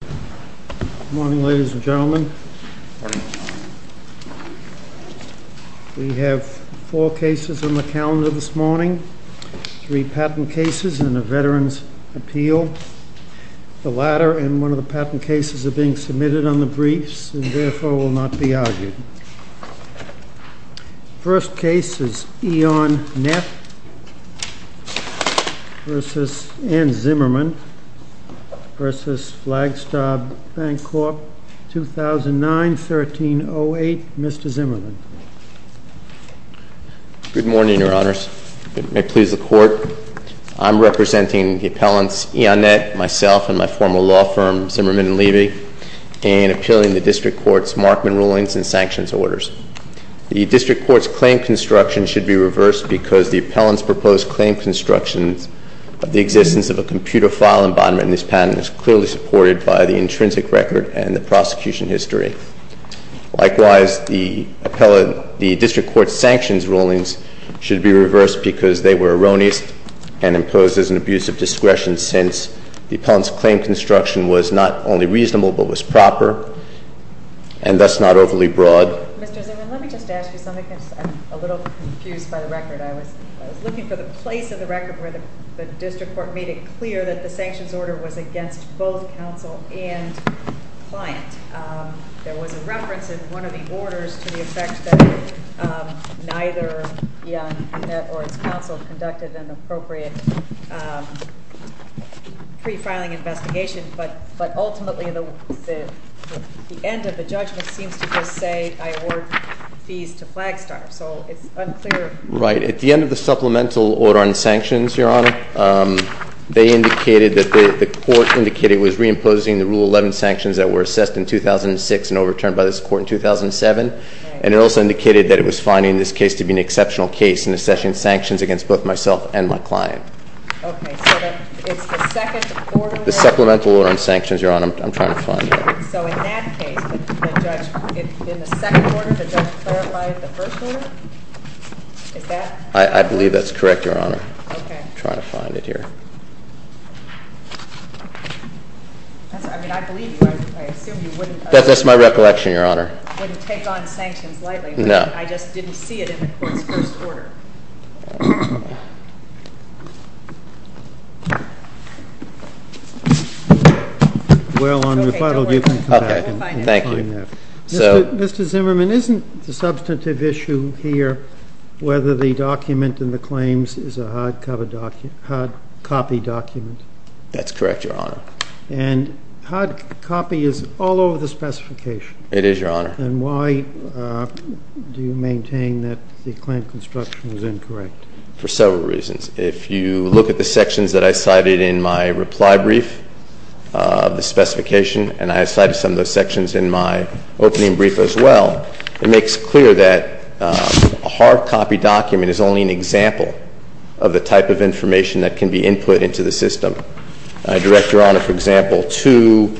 Good morning, ladies and gentlemen. We have four cases on the calendar this morning, three patent cases and a Veterans Appeal. The latter and one of the patent cases are being submitted on the briefs and therefore will not be argued. First case is EON-NET v. Ann Zimmerman v. FLAGSTAR BANCORP, 2009-13-08. Mr. Zimmerman. Good morning, Your Honors. May it please the Court, I'm representing the appellants EON-NET, myself and my former law firm Zimmerman & Levy in appealing the District Court's Markman rulings and sanctions orders. The District Court's claim construction should be reversed because the appellant's proposed claim construction of the existence of a computer file embodiment in this patent is clearly supported by the intrinsic record and the prosecution history. Likewise, the District Court's sanctions rulings should be reversed because they were erroneous and imposed as an abuse of discretion since the appellant's claim construction was not only reasonable but was proper and thus not overly broad. Mr. Zimmerman, let me just ask you something because I'm a little confused by the record. I was looking for the place in the record where the District Court made it clear that the sanctions order was against both counsel and client. There was a reference in one of the orders to the effect that neither EON-NET or its counsel conducted an appropriate pre-filing investigation, but ultimately the end of the judgment seems to just say I award fees to FLAGSTAR, so it's unclear. Right. At the end of the supplemental order on sanctions, Your Honor, they indicated that the court indicated it was reimposing the Rule 11 sanctions that were assessed in 2006 and overturned by this court in 2007, and it also indicated that it was finding this case to be an exceptional case in assessing sanctions against both myself and my client. Okay, so it's the second order? The supplemental order on sanctions, Your Honor. I'm trying to find it. So in that case, the judge, in the second order, the judge clarified the first order? Is that correct? I believe that's correct, Your Honor. Okay. I'm trying to find it here. I mean, I believe you. I assume you wouldn't— That's my recollection, Your Honor. —wouldn't take on sanctions lightly. No. I just didn't see it in the court's first order. Well, on refutal, you can come back and find that. Okay. Thank you. Mr. Zimmerman, isn't the substantive issue here whether the document in the claims is a hard copy document? That's correct, Your Honor. And hard copy is all over the specification. It is, Your Honor. And why do you maintain that the claim construction is hard copy? For several reasons. If you look at the sections that I cited in my reply brief, the specification, and I cited some of those sections in my opening brief as well, it makes clear that a hard copy document is only an example of the type of information that can be input into the system. I direct Your Honor, for example, to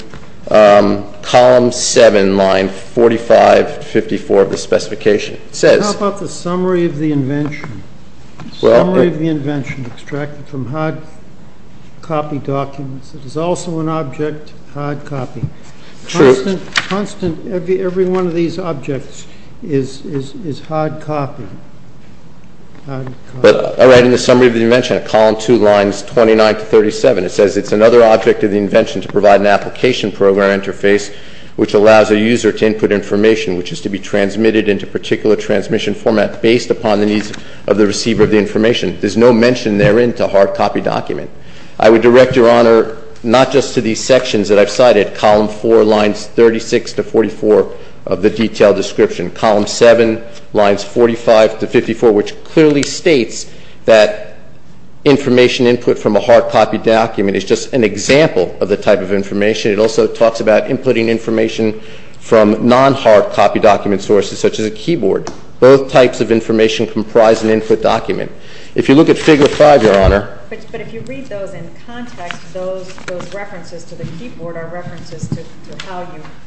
column 7, line 4554 of the specification. It says— How about the summary of the invention? Summary of the invention extracted from hard copy documents. It is also an object, hard copy. True. Constant, every one of these objects is hard copy. But I write in the summary of the invention at column 2, lines 29 to 37. It says it's another object of the invention to provide an application program interface which allows a user to input information which is to be transmitted into particular transmission format based upon the needs of the receiver of the information. There's no mention therein to hard copy document. I would direct Your Honor, not just to these sections that I've cited, column 4, lines 36 to 44 of the detailed description. Column 7, lines 45 to 54, which clearly states that information input from a hard copy document is just an example of the type of information. It also talks about inputting information from non-hard copy document sources such as a keyboard. Both types of information comprise an input document. If you look at figure 5, Your Honor— But if you read those in context, those references to the keyboard are references to how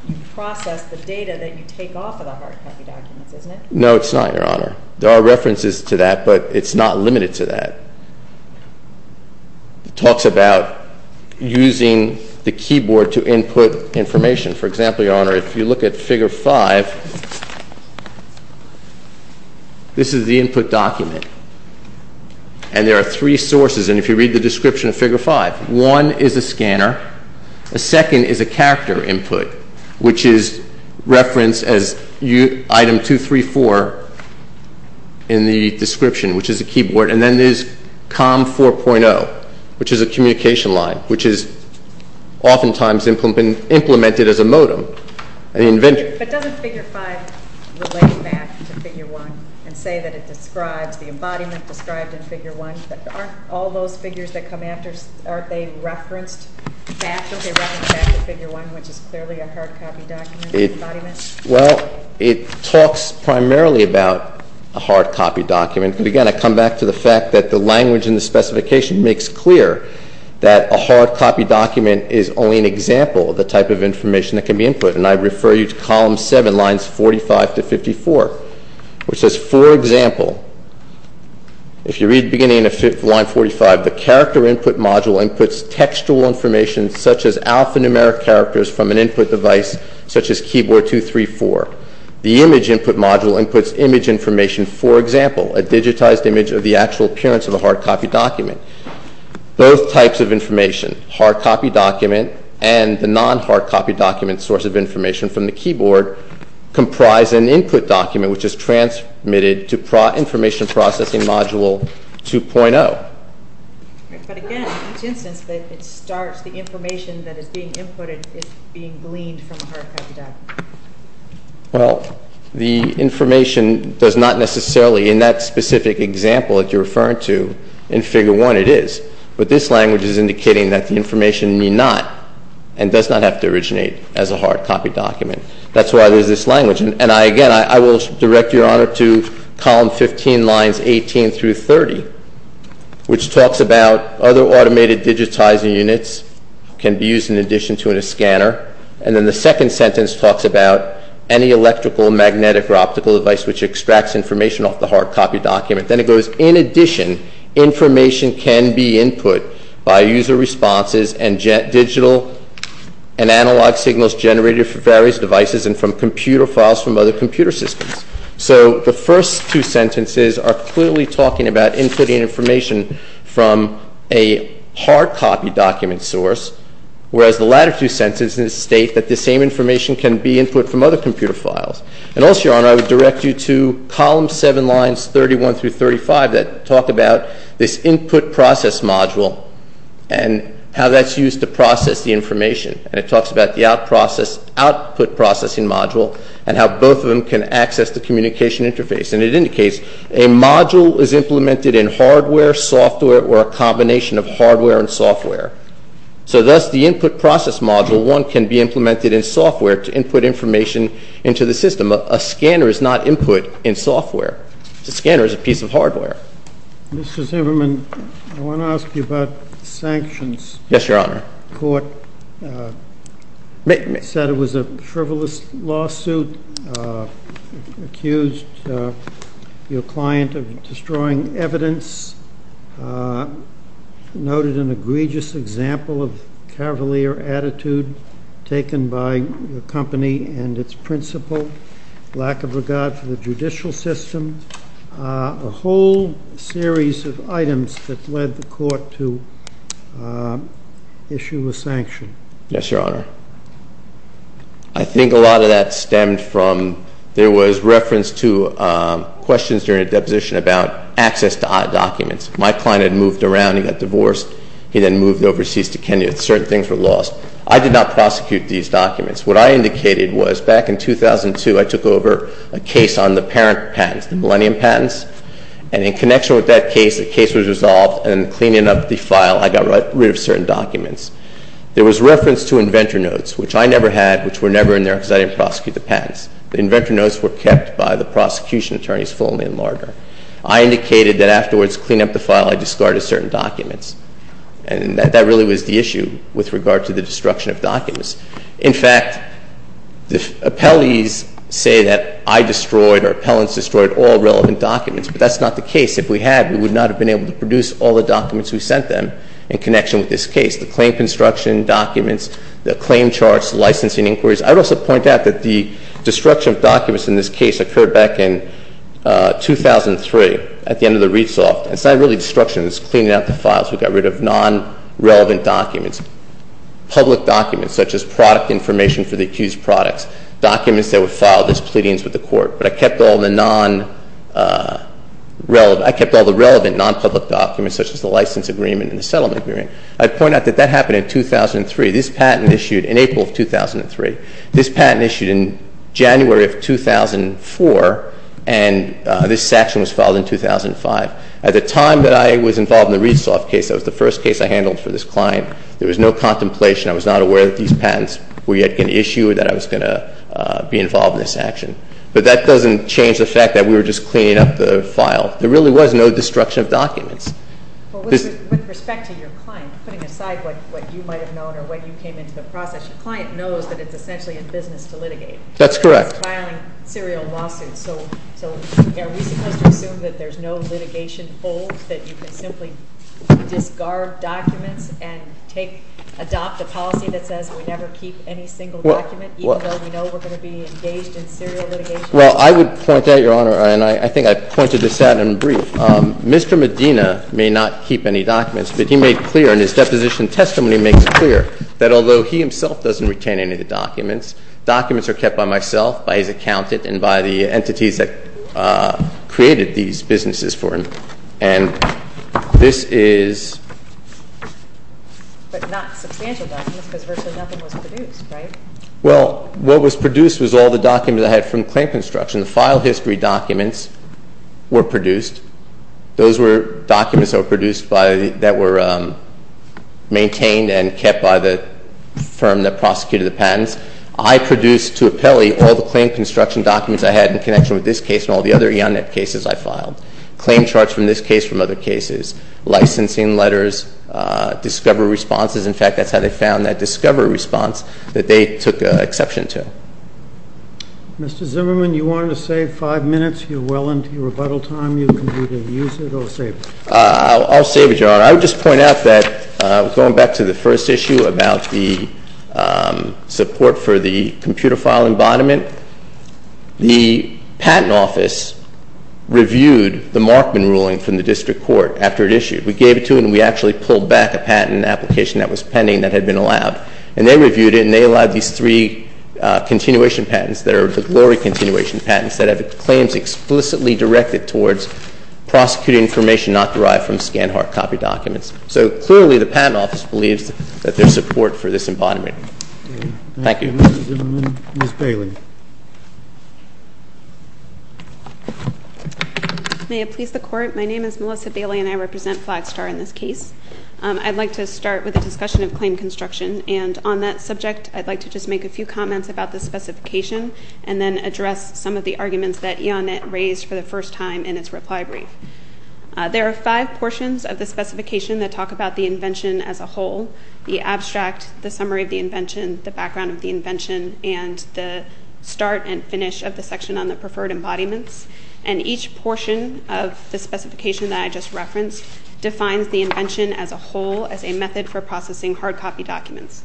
you process the data that you take off of the hard copy documents, isn't it? No, it's not, Your Honor. There are references to that, but it's not limited to that. It talks about using the keyboard to input information. For example, Your Honor, if you look at figure 5, this is the input document, and there are three sources, and if you read the description of figure 5, one is a scanner, the second is a character input, which is referenced as item 234 in the description, which is a keyboard, and then there's COM 4.0, which is a communication line, which is oftentimes implemented as a modem in the inventory. But doesn't figure 5 relate back to figure 1 and say that it describes the embodiment described in figure 1? Aren't all those figures that come after, aren't they referenced back? Don't they reference back to figure 1, which is clearly a hard copy document embodiment? Well, it talks primarily about a hard copy document. Again, I come back to the fact that the language in the specification makes clear that a hard copy document is only an example of the type of information that can be input, and I refer you to column 7, lines 45 to 54, which says, For example, if you read beginning of line 45, the character input module inputs textual information such as alphanumeric characters from an input device such as keyboard 234. The image input module inputs image information, for example, a digitized image of the actual appearance of a hard copy document. Both types of information, hard copy document and the non-hard copy document source of information from the keyboard, comprise an input document which is transmitted to information processing module 2.0. But again, each instance that it starts, the information that is being inputted is being gleaned from a hard copy document. Well, the information does not necessarily, in that specific example that you're referring to, in figure 1, it is. But this language is indicating that the information may not and does not have to originate as a hard copy document. That's why there's this language. And again, I will direct your honor to column 15, lines 18 through 30, which talks about other automated digitizing units can be used in addition to a scanner. And then the second sentence talks about any electrical, magnetic, or optical device which extracts information off the hard copy document. Then it goes, In addition, information can be input by user responses and digital and analog signals generated from various devices and from computer files from other computer systems. So the first two sentences are clearly talking about inputting information from a hard copy document source, whereas the latter two sentences state that the same information can be input from other computer files. And also, your honor, I would direct you to column 7, lines 31 through 35, that talk about this input process module and how that's used to process the information. And it talks about the output processing module and how both of them can access the communication interface. And it indicates a module is implemented in hardware, software, or a combination of hardware and software. So thus, the input process module, one can be implemented in software to input information into the system. A scanner is not input in software. A scanner is a piece of hardware. Mr. Zimmerman, I want to ask you about sanctions. Yes, your honor. The court said it was a frivolous lawsuit, accused your client of destroying evidence, noted an egregious example of cavalier attitude taken by the company and its principal, lack of regard for the judicial system. A whole series of items that led the court to issue a sanction. Yes, your honor. I think a lot of that stemmed from there was reference to questions during a deposition about access to documents. My client had moved around. He got divorced. He then moved overseas to Kenya. Certain things were lost. I did not prosecute these documents. What I indicated was back in 2002, I took over a case on the parent patents, the millennium patents, and in connection with that case, the case was resolved, and in cleaning up the file, I got rid of certain documents. There was reference to inventor notes, which I never had, which were never in there because I didn't prosecute the patents. The inventor notes were kept by the prosecution attorneys, Foley and Lardner. I indicated that afterwards, cleaning up the file, I discarded certain documents, and that really was the issue with regard to the destruction of documents. In fact, the appellees say that I destroyed or appellants destroyed all relevant documents, but that's not the case. If we had, we would not have been able to produce all the documents we sent them in connection with this case, the claim construction documents, the claim charts, licensing inquiries. I would also point out that the destruction of documents in this case occurred back in 2003 at the end of the read-off. It's not really destruction. It's cleaning up the files. We got rid of non-relevant documents. Public documents such as product information for the accused products, documents that were filed as pleadings with the court, but I kept all the non-relevant, I kept all the relevant non-public documents such as the license agreement and the settlement agreement. I'd point out that that happened in 2003. This patent issued in April of 2003. This patent issued in January of 2004, and this section was filed in 2005. At the time that I was involved in the Rees-Loft case, that was the first case I handled for this client. There was no contemplation. I was not aware that these patents were yet going to issue or that I was going to be involved in this action. But that doesn't change the fact that we were just cleaning up the file. There really was no destruction of documents. With respect to your client, putting aside what you might have known or when you came into the process, your client knows that it's essentially a business to litigate. That's correct. Filing serial lawsuits. So are we supposed to assume that there's no litigation hold, that you can simply discard documents and adopt a policy that says we never keep any single document, even though we know we're going to be engaged in serial litigation? Well, I would point out, Your Honor, and I think I pointed this out in brief, Mr. Medina may not keep any documents, but he made clear in his deposition testimony makes it clear that although he himself doesn't retain any of the documents, documents are kept by myself, by his accountant, and by the entities that created these businesses for him. And this is... But not substantial documents because virtually nothing was produced, right? Well, what was produced was all the documents I had from claim construction. The file history documents were produced. Those were documents that were produced by, that were maintained and kept by the firm that prosecuted the patents. I produced, to appellee, all the claim construction documents I had from this case from other cases, licensing letters, discovery responses. In fact, that's how they found that discovery response, that they took exception to. Mr. Zimmerman, you wanted to save five minutes. You're well into your rebuttal time. You can either use it or save it. I'll save it, Your Honor. I would just point out that going back to the first issue about the support for the computer file embodiment, the patent office reviewed the Markman ruling from the district court after it issued. We gave it to them, and we actually pulled back a patent application that was pending that had been allowed. And they reviewed it, and they allowed these three continuation patents, that are the glory continuation patents, that have claims explicitly directed towards prosecuting information not derived from Scanhart copy documents. So, clearly, the patent office believes that there's support for this embodiment. Thank you. Thank you, Mr. Zimmerman. Ms. Bailey. May it please the Court. My name is Melissa Bailey, and I represent Flagstar in this case. I'd like to start with a discussion of claim construction. And on that subject, I'd like to just make a few comments about the specification and then address some of the arguments that Iannette raised for the first time in its reply brief. There are five portions of the specification that talk about the invention as a whole, the abstract, the summary of the invention, the background of the invention, and the start and finish of the section on the preferred embodiments. And each portion of the specification that I just referenced defines the invention as a whole, as a method for processing hard copy documents.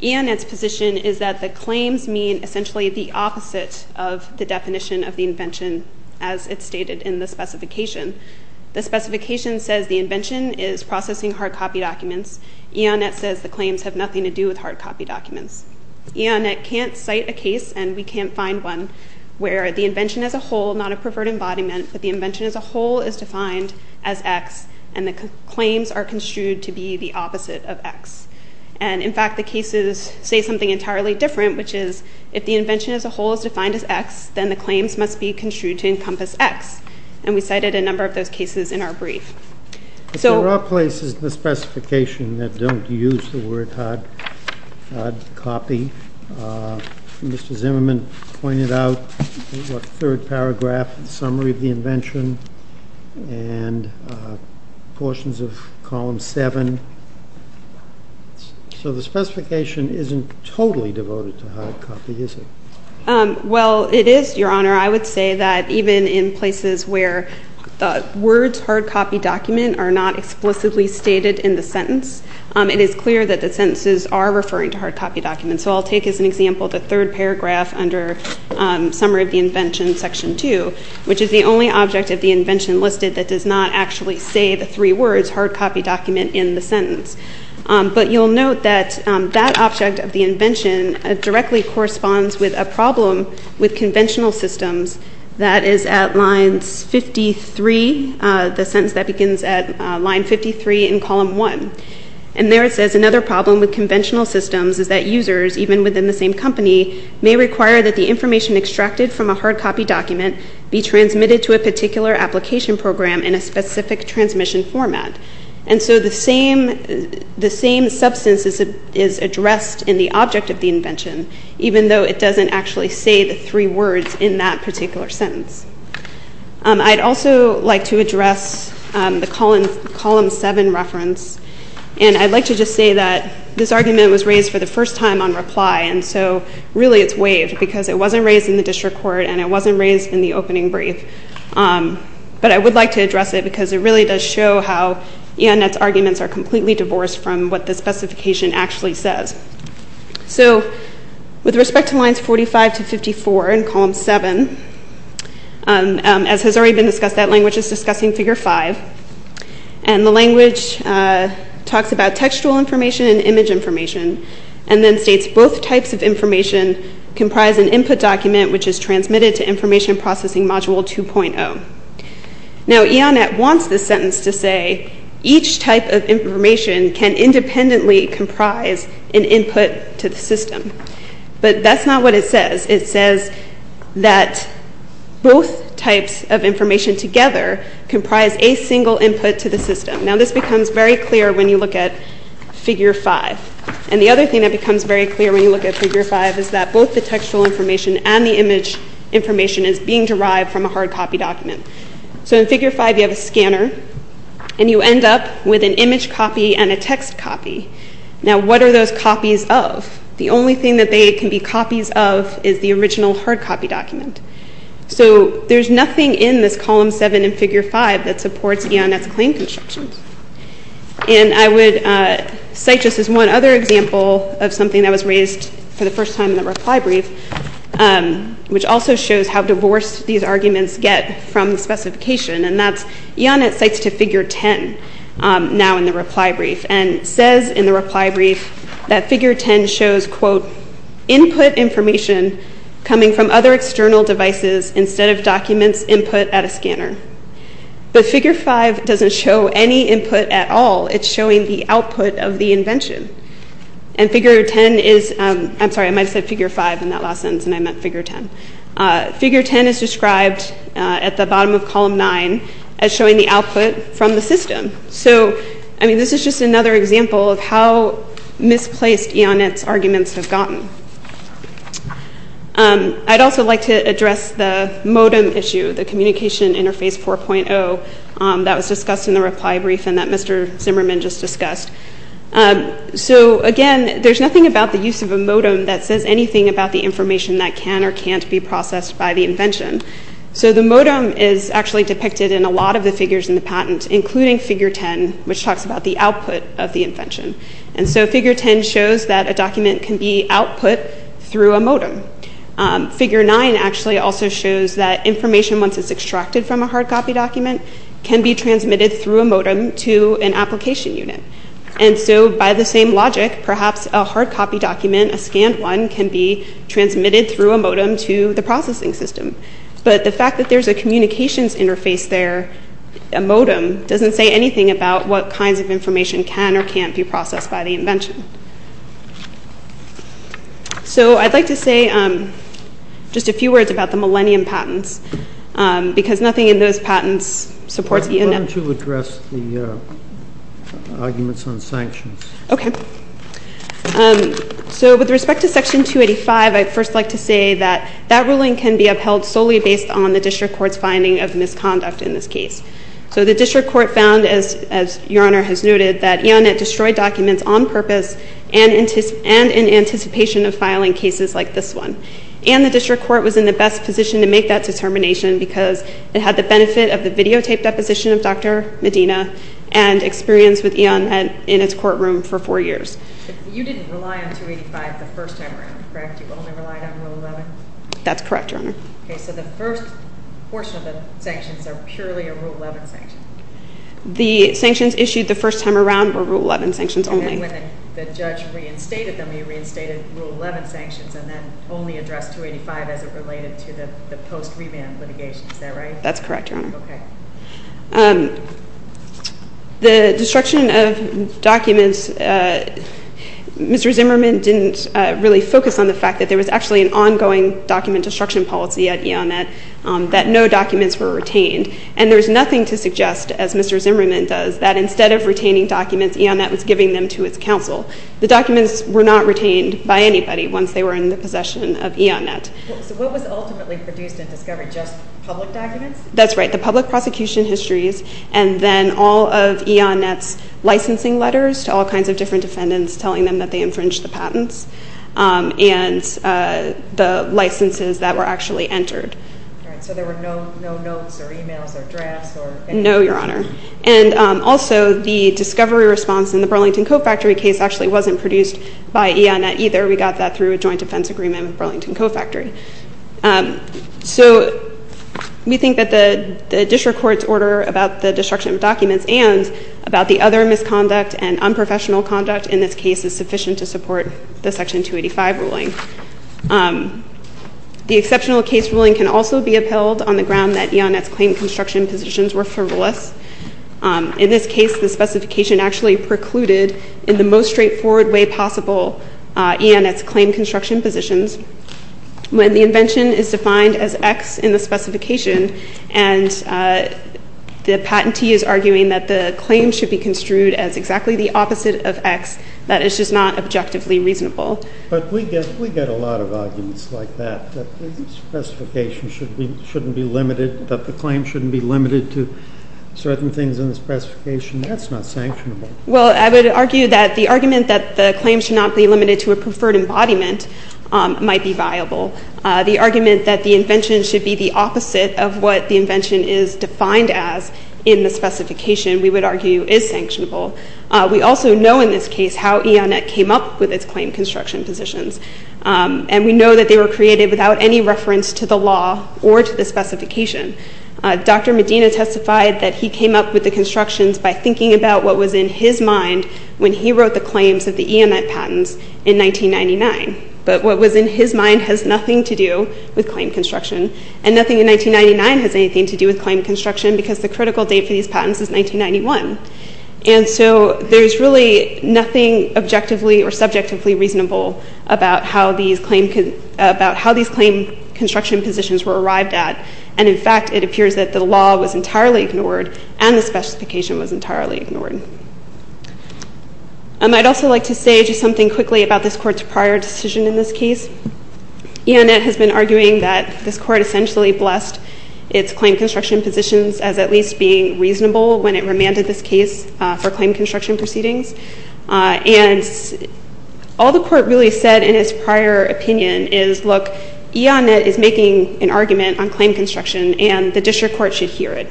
Iannette's position is that the claims mean essentially the opposite of the definition of the invention as it's stated in the specification. The specification says the invention is processing hard copy documents. Iannette says the claims have nothing to do with hard copy documents. Iannette can't cite a case, and we can't find one, where the invention as a whole, not a preferred embodiment, but the invention as a whole is defined as X and the claims are construed to be the opposite of X. And, in fact, the cases say something entirely different, which is if the invention as a whole is defined as X, then the claims must be construed to encompass X. And we cited a number of those cases in our brief. But there are places in the specification that don't use the word hard copy. Mr. Zimmerman pointed out a third paragraph in the summary of the invention and portions of column 7. So the specification isn't totally devoted to hard copy, is it? Well, it is, Your Honor. I would say that even in places where the words hard copy document are not explicitly stated in the sentence, it is clear that the sentences are referring to hard copy documents. So I'll take as an example the third paragraph under summary of the invention, section 2, which is the only object of the invention listed that does not actually say the three words hard copy document in the sentence. But you'll note that that object of the invention directly corresponds with a problem with conventional systems that is at line 53, the sentence that begins at line 53 in column 1. And there it says another problem with conventional systems is that users, even within the same company, may require that the information extracted from a hard copy document be transmitted to a particular application program in a specific transmission format. And so the same substance is addressed in the object of the invention, even though it doesn't actually say the three words in that particular sentence. I'd also like to address the column 7 reference. And I'd like to just say that this argument was raised for the first time on reply, and so really it's waived because it wasn't raised in the district court and it wasn't raised in the opening brief. But I would like to address it because it really does show how E.N. Nett's arguments are completely divorced from what the specification actually says. So with respect to lines 45 to 54 in column 7, as has already been discussed, that language is discussing figure 5. And the language talks about textual information and image information and then states both types of information comprise an input document which is transmitted to information processing module 2.0. Now E.N. Nett wants this sentence to say each type of information can independently comprise an input to the system. But that's not what it says. It says that both types of information together comprise a single input to the system. Now this becomes very clear when you look at figure 5. And the other thing that becomes very clear when you look at figure 5 is that both the textual information and the image information is being derived from a hard copy document. So in figure 5 you have a scanner and you end up with an image copy and a text copy. Now what are those copies of? The only thing that they can be copies of is the original hard copy document. So there's nothing in this column 7 in figure 5 that supports E.N. Nett's claim constructions. And I would cite this as one other example of something that was raised for the first time in the reply brief, which also shows how divorced these arguments get from the specification. And that's E.N. Nett cites to figure 10 now in the reply brief. And it says in the reply brief that figure 10 shows quote, input information coming from other external devices instead of documents input at a scanner. But figure 5 doesn't show any input at all. It's showing the output of the invention. And figure 10 is, I'm sorry, I might have said figure 5 in that last sentence and I meant figure 10. Figure 10 is described at the bottom of column 9 as showing the output from the system. So this is just another example of how misplaced E.N. Nett's arguments have gotten. I'd also like to address the modem issue, the communication interface 4.0 that was discussed in the reply brief and that Mr. Zimmerman just discussed. So again, there's nothing about the use of a modem that says anything about the information that can or can't be processed by the invention. So the modem is actually depicted in a lot of the figures in the patent including figure 10, which talks about the output of the invention. And so figure 10 shows that a document can be output through a modem. Figure 9 actually also shows that information once it's extracted from a hard copy document can be transmitted through a modem to an application unit. And so by the same logic, perhaps a hard copy document, a scanned one, can be transmitted through a modem to the processing system. But the fact that there's a communications interface there, a modem, doesn't say anything about what kinds of information can or can't be processed by the invention. So I'd like to say just a few words about the Millennium patents because nothing in those patents supports EONET. Why don't you address the arguments on sanctions? Okay. So with respect to Section 285, I'd first like to say that that ruling can be upheld solely based on the district court's finding of misconduct in this case. So the district court found, as Your Honor has noted, that EONET destroyed documents on purpose and in anticipation of filing cases like this one. And the district court was in the best position to make that determination because it had the benefit of the videotaped deposition of Dr. Medina and experience with EONET in its courtroom for four years. You didn't rely on 285 the first time around, correct? You only relied on Rule 11? That's correct, Your Honor. Okay. So the first portion of the sanctions are purely a Rule 11 sanction? The sanctions issued the first time around were Rule 11 sanctions only. And then when the judge reinstated them, he reinstated Rule 11 sanctions and then only addressed 285 as it related to the post-reban litigation. Is that right? That's correct, Your Honor. Okay. The destruction of documents, Mr. Zimmerman didn't really focus on the fact that there was actually an ongoing document destruction policy at EONET that no documents were retained. And there's nothing to suggest, as Mr. Zimmerman does, that instead of retaining documents, EONET was giving them to its counsel. The documents were not retained by anybody once they were in the possession of EONET. So what was ultimately produced in discovery, just public documents? That's right, the public prosecution histories and then all of EONET's licensing letters to all kinds of different defendants telling them that they infringed the patents and the licenses that were actually entered. So there were no notes or emails or drafts or anything? No, Your Honor. And also the discovery response in the Burlington Co-Factory case actually wasn't produced by EONET either. We got that through a joint defense agreement with Burlington Co-Factory. So we think that the district court's order about the destruction of documents and about the other misconduct and unprofessional conduct in this case is sufficient to support the Section 285 ruling. The exceptional case ruling can also be upheld on the ground that EONET's claim construction positions were frivolous. In this case, the specification actually precluded in the most straightforward way possible EONET's claim construction positions when the invention is defined as X in the specification and the patentee is arguing that the claim should be construed as exactly the opposite of X, that it's just not objectively reasonable. But we get a lot of arguments like that, that the specification shouldn't be limited, that the claim shouldn't be limited to certain things in the specification. That's not sanctionable. Well, I would argue that the argument that the claim should not be limited to a preferred embodiment might be viable. The argument that the invention should be the opposite of what the invention is defined as in the specification, we would argue, is sanctionable. We also know in this case how EONET came up with its claim construction positions. And we know that they were created without any reference to the law or to the specification. Dr. Medina testified that he came up with the constructions by thinking about what was in his mind when he wrote the claims of the EONET patents in 1999. But what was in his mind has nothing to do with claim construction, and nothing in 1999 has anything to do with claim construction because the critical date for these patents is 1991. And so there's really nothing objectively or subjectively reasonable about how these claim construction positions were arrived at. And, in fact, it appears that the law was entirely ignored and the specification was entirely ignored. I'd also like to say just something quickly about this Court's prior decision in this case. EONET has been arguing that this Court essentially blessed its claim construction positions as at least being reasonable when it remanded this case for claim construction proceedings. And all the Court really said in its prior opinion is, look, EONET is making an argument on claim construction, and the district court should hear it.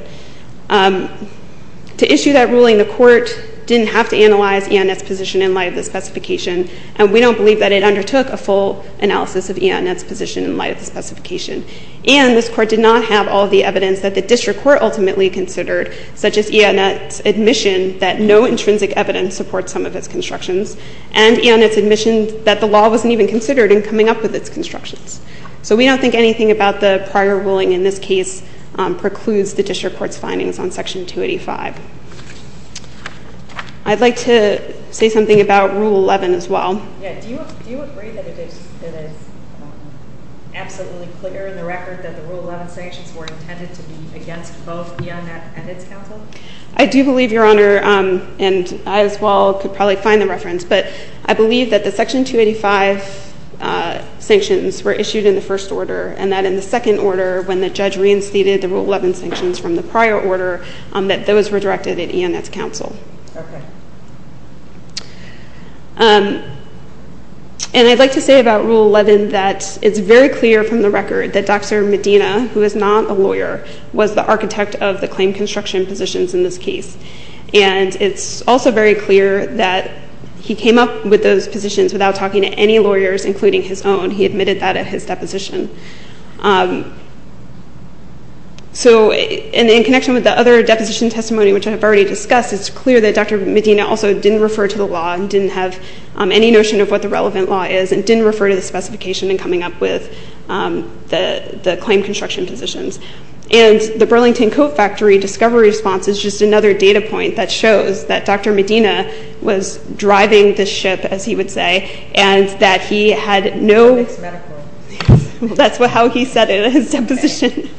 To issue that ruling, the Court didn't have to analyze EONET's position in light of the specification, and we don't believe that it undertook a full analysis of EONET's position in light of the specification. And this Court did not have all the evidence that the district court ultimately considered, such as EONET's admission that no intrinsic evidence supports some of its constructions and EONET's admission that the law wasn't even considered in coming up with its constructions. So we don't think anything about the prior ruling in this case precludes the district court's findings on Section 285. I'd like to say something about Rule 11 as well. Yeah, do you agree that it is absolutely clear in the record that the Rule 11 sanctions were intended to be against both EONET and its counsel? I do believe, Your Honor, and I as well could probably find the reference, but I believe that the Section 285 sanctions were issued in the first order, and that in the second order, when the judge reinstated the Rule 11 sanctions from the prior order, that those were directed at EONET's counsel. Okay. And I'd like to say about Rule 11 that it's very clear from the record that Dr. Medina, who is not a lawyer, was the architect of the claim construction positions in this case. And it's also very clear that he came up with those positions without talking to any lawyers, including his own. He admitted that at his deposition. So in connection with the other deposition testimony, which I have already discussed, it's clear that Dr. Medina also didn't refer to the law and didn't have any notion of what the relevant law is and didn't refer to the specification in coming up with the claim construction positions. And the Burlington Coat Factory discovery response is just another data point that shows that Dr. Medina was driving the ship, as he would say, and that he had no... That's how he said it in his deposition.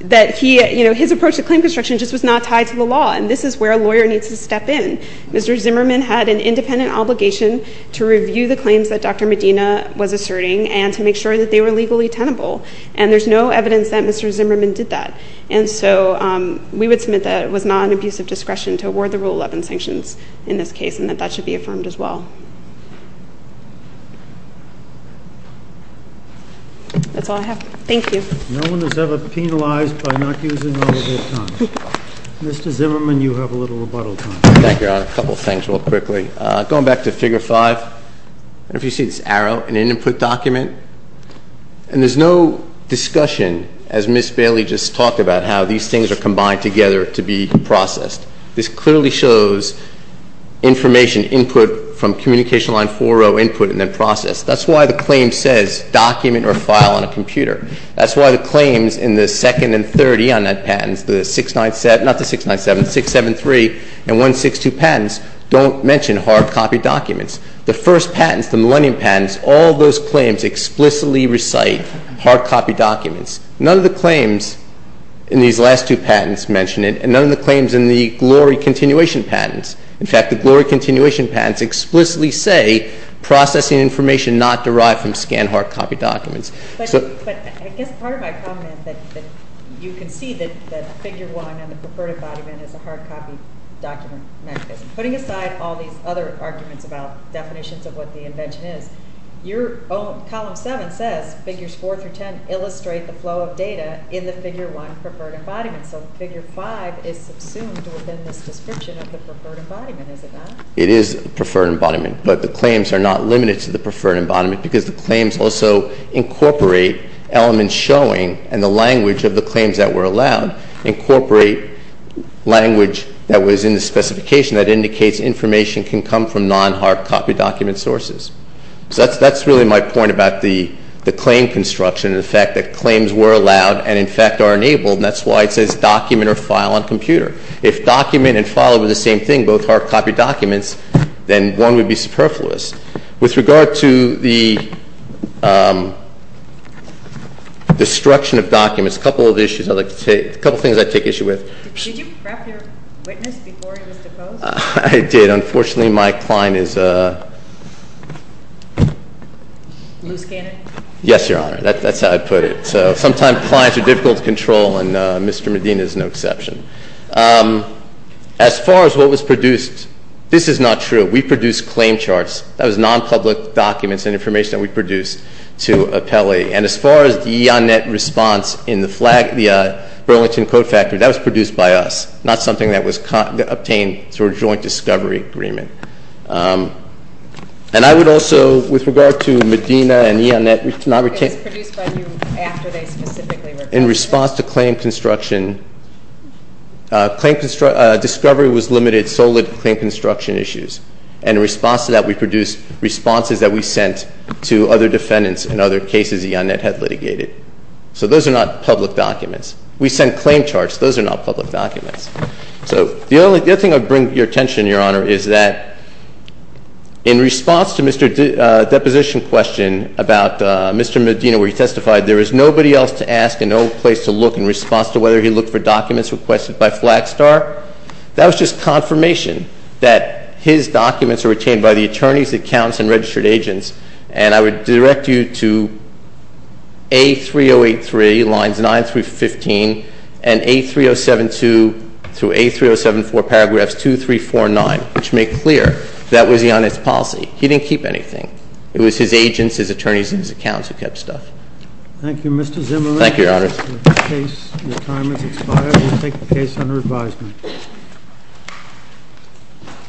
That his approach to claim construction just was not tied to the law, and this is where a lawyer needs to step in. Mr. Zimmerman had an independent obligation to review the claims that Dr. Medina was asserting and to make sure that they were legally tenable. And there's no evidence that Mr. Zimmerman did that. And so we would submit that it was not an abuse of discretion to award the Rule 11 sanctions in this case and that that should be affirmed as well. That's all I have. Thank you. No one is ever penalized by not using all of their time. Mr. Zimmerman, you have a little rebuttal time. Thank you, Your Honor. A couple of things real quickly. Going back to Figure 5, I don't know if you see this arrow, an input document. And there's no discussion, as Ms. Bailey just talked about, how these things are combined together to be processed. This clearly shows information input from communication line 4-0 input and then processed. That's why the claim says document or file on a computer. That's why the claims in the second and 30 on that patent, the 697...not the 697, 673 and 162 patents, don't mention hard-copy documents. The first patents, the Millennium patents, all those claims explicitly recite hard-copy documents. None of the claims in these last two patents mention it, and none of the claims in the Glory Continuation patents. In fact, the Glory Continuation patents explicitly say processing information not derived from scanned hard-copy documents. But I guess part of my comment that you can see that Figure 1 and the preferred embodiment is a hard-copy document mechanism. Putting aside all these other arguments about definitions of what the invention is, Column 7 says Figures 4-10 illustrate the flow of data in the Figure 1 preferred embodiment. So Figure 5 is subsumed within this description of the preferred embodiment, is it not? It is preferred embodiment, but the claims are not limited to the preferred embodiment because the claims also incorporate elements showing, in the language of the claims that were allowed, incorporate language that was in the specification that indicates information can come from non-hard-copy document sources. So that's really my point about the claim construction and the fact that claims were allowed and, in fact, are enabled, and that's why it says document or file on computer. If document and file were the same thing, both hard-copy documents, then one would be superfluous. With regard to the destruction of documents, a couple of things I take issue with. Did you prep your witness before he was deposed? I did. Unfortunately, my client is a… Loose cannon? Yes, Your Honor. That's how I put it. So sometimes clients are difficult to control, and Mr. Medina is no exception. As far as what was produced, this is not true. We produced claim charts. That was non-public documents and information that we produced to appellee. And as far as the E.O.N.Net response in the Burlington Code Factory, that was produced by us, not something that was obtained through a joint discovery agreement. And I would also, with regard to Medina and E.O.N.Net… It was produced by you after they specifically requested it. In response to claim construction, discovery was limited solely to claim construction issues. And in response to that, we produced responses that we sent to other defendants in other cases E.O.N.Net had litigated. So those are not public documents. We sent claim charts. Those are not public documents. So the other thing I would bring to your attention, Your Honor, is that in response to Mr. Deposition's question about Mr. Medina, where he testified there was nobody else to ask and no place to look in response to whether he looked for documents requested by Flagstar, that was just confirmation that his documents were retained by the attorneys, accountants, and registered agents and I would direct you to A3083, lines 9 through 15, and A3072 through A3074, paragraphs 2, 3, 4, and 9, which make clear that was E.O.N.Net's policy. He didn't keep anything. It was his agents, his attorneys, and his accountants who kept stuff. Thank you, Mr. Zimmerman. Thank you, Your Honor. The case, your time has expired. We will take the case under advisement.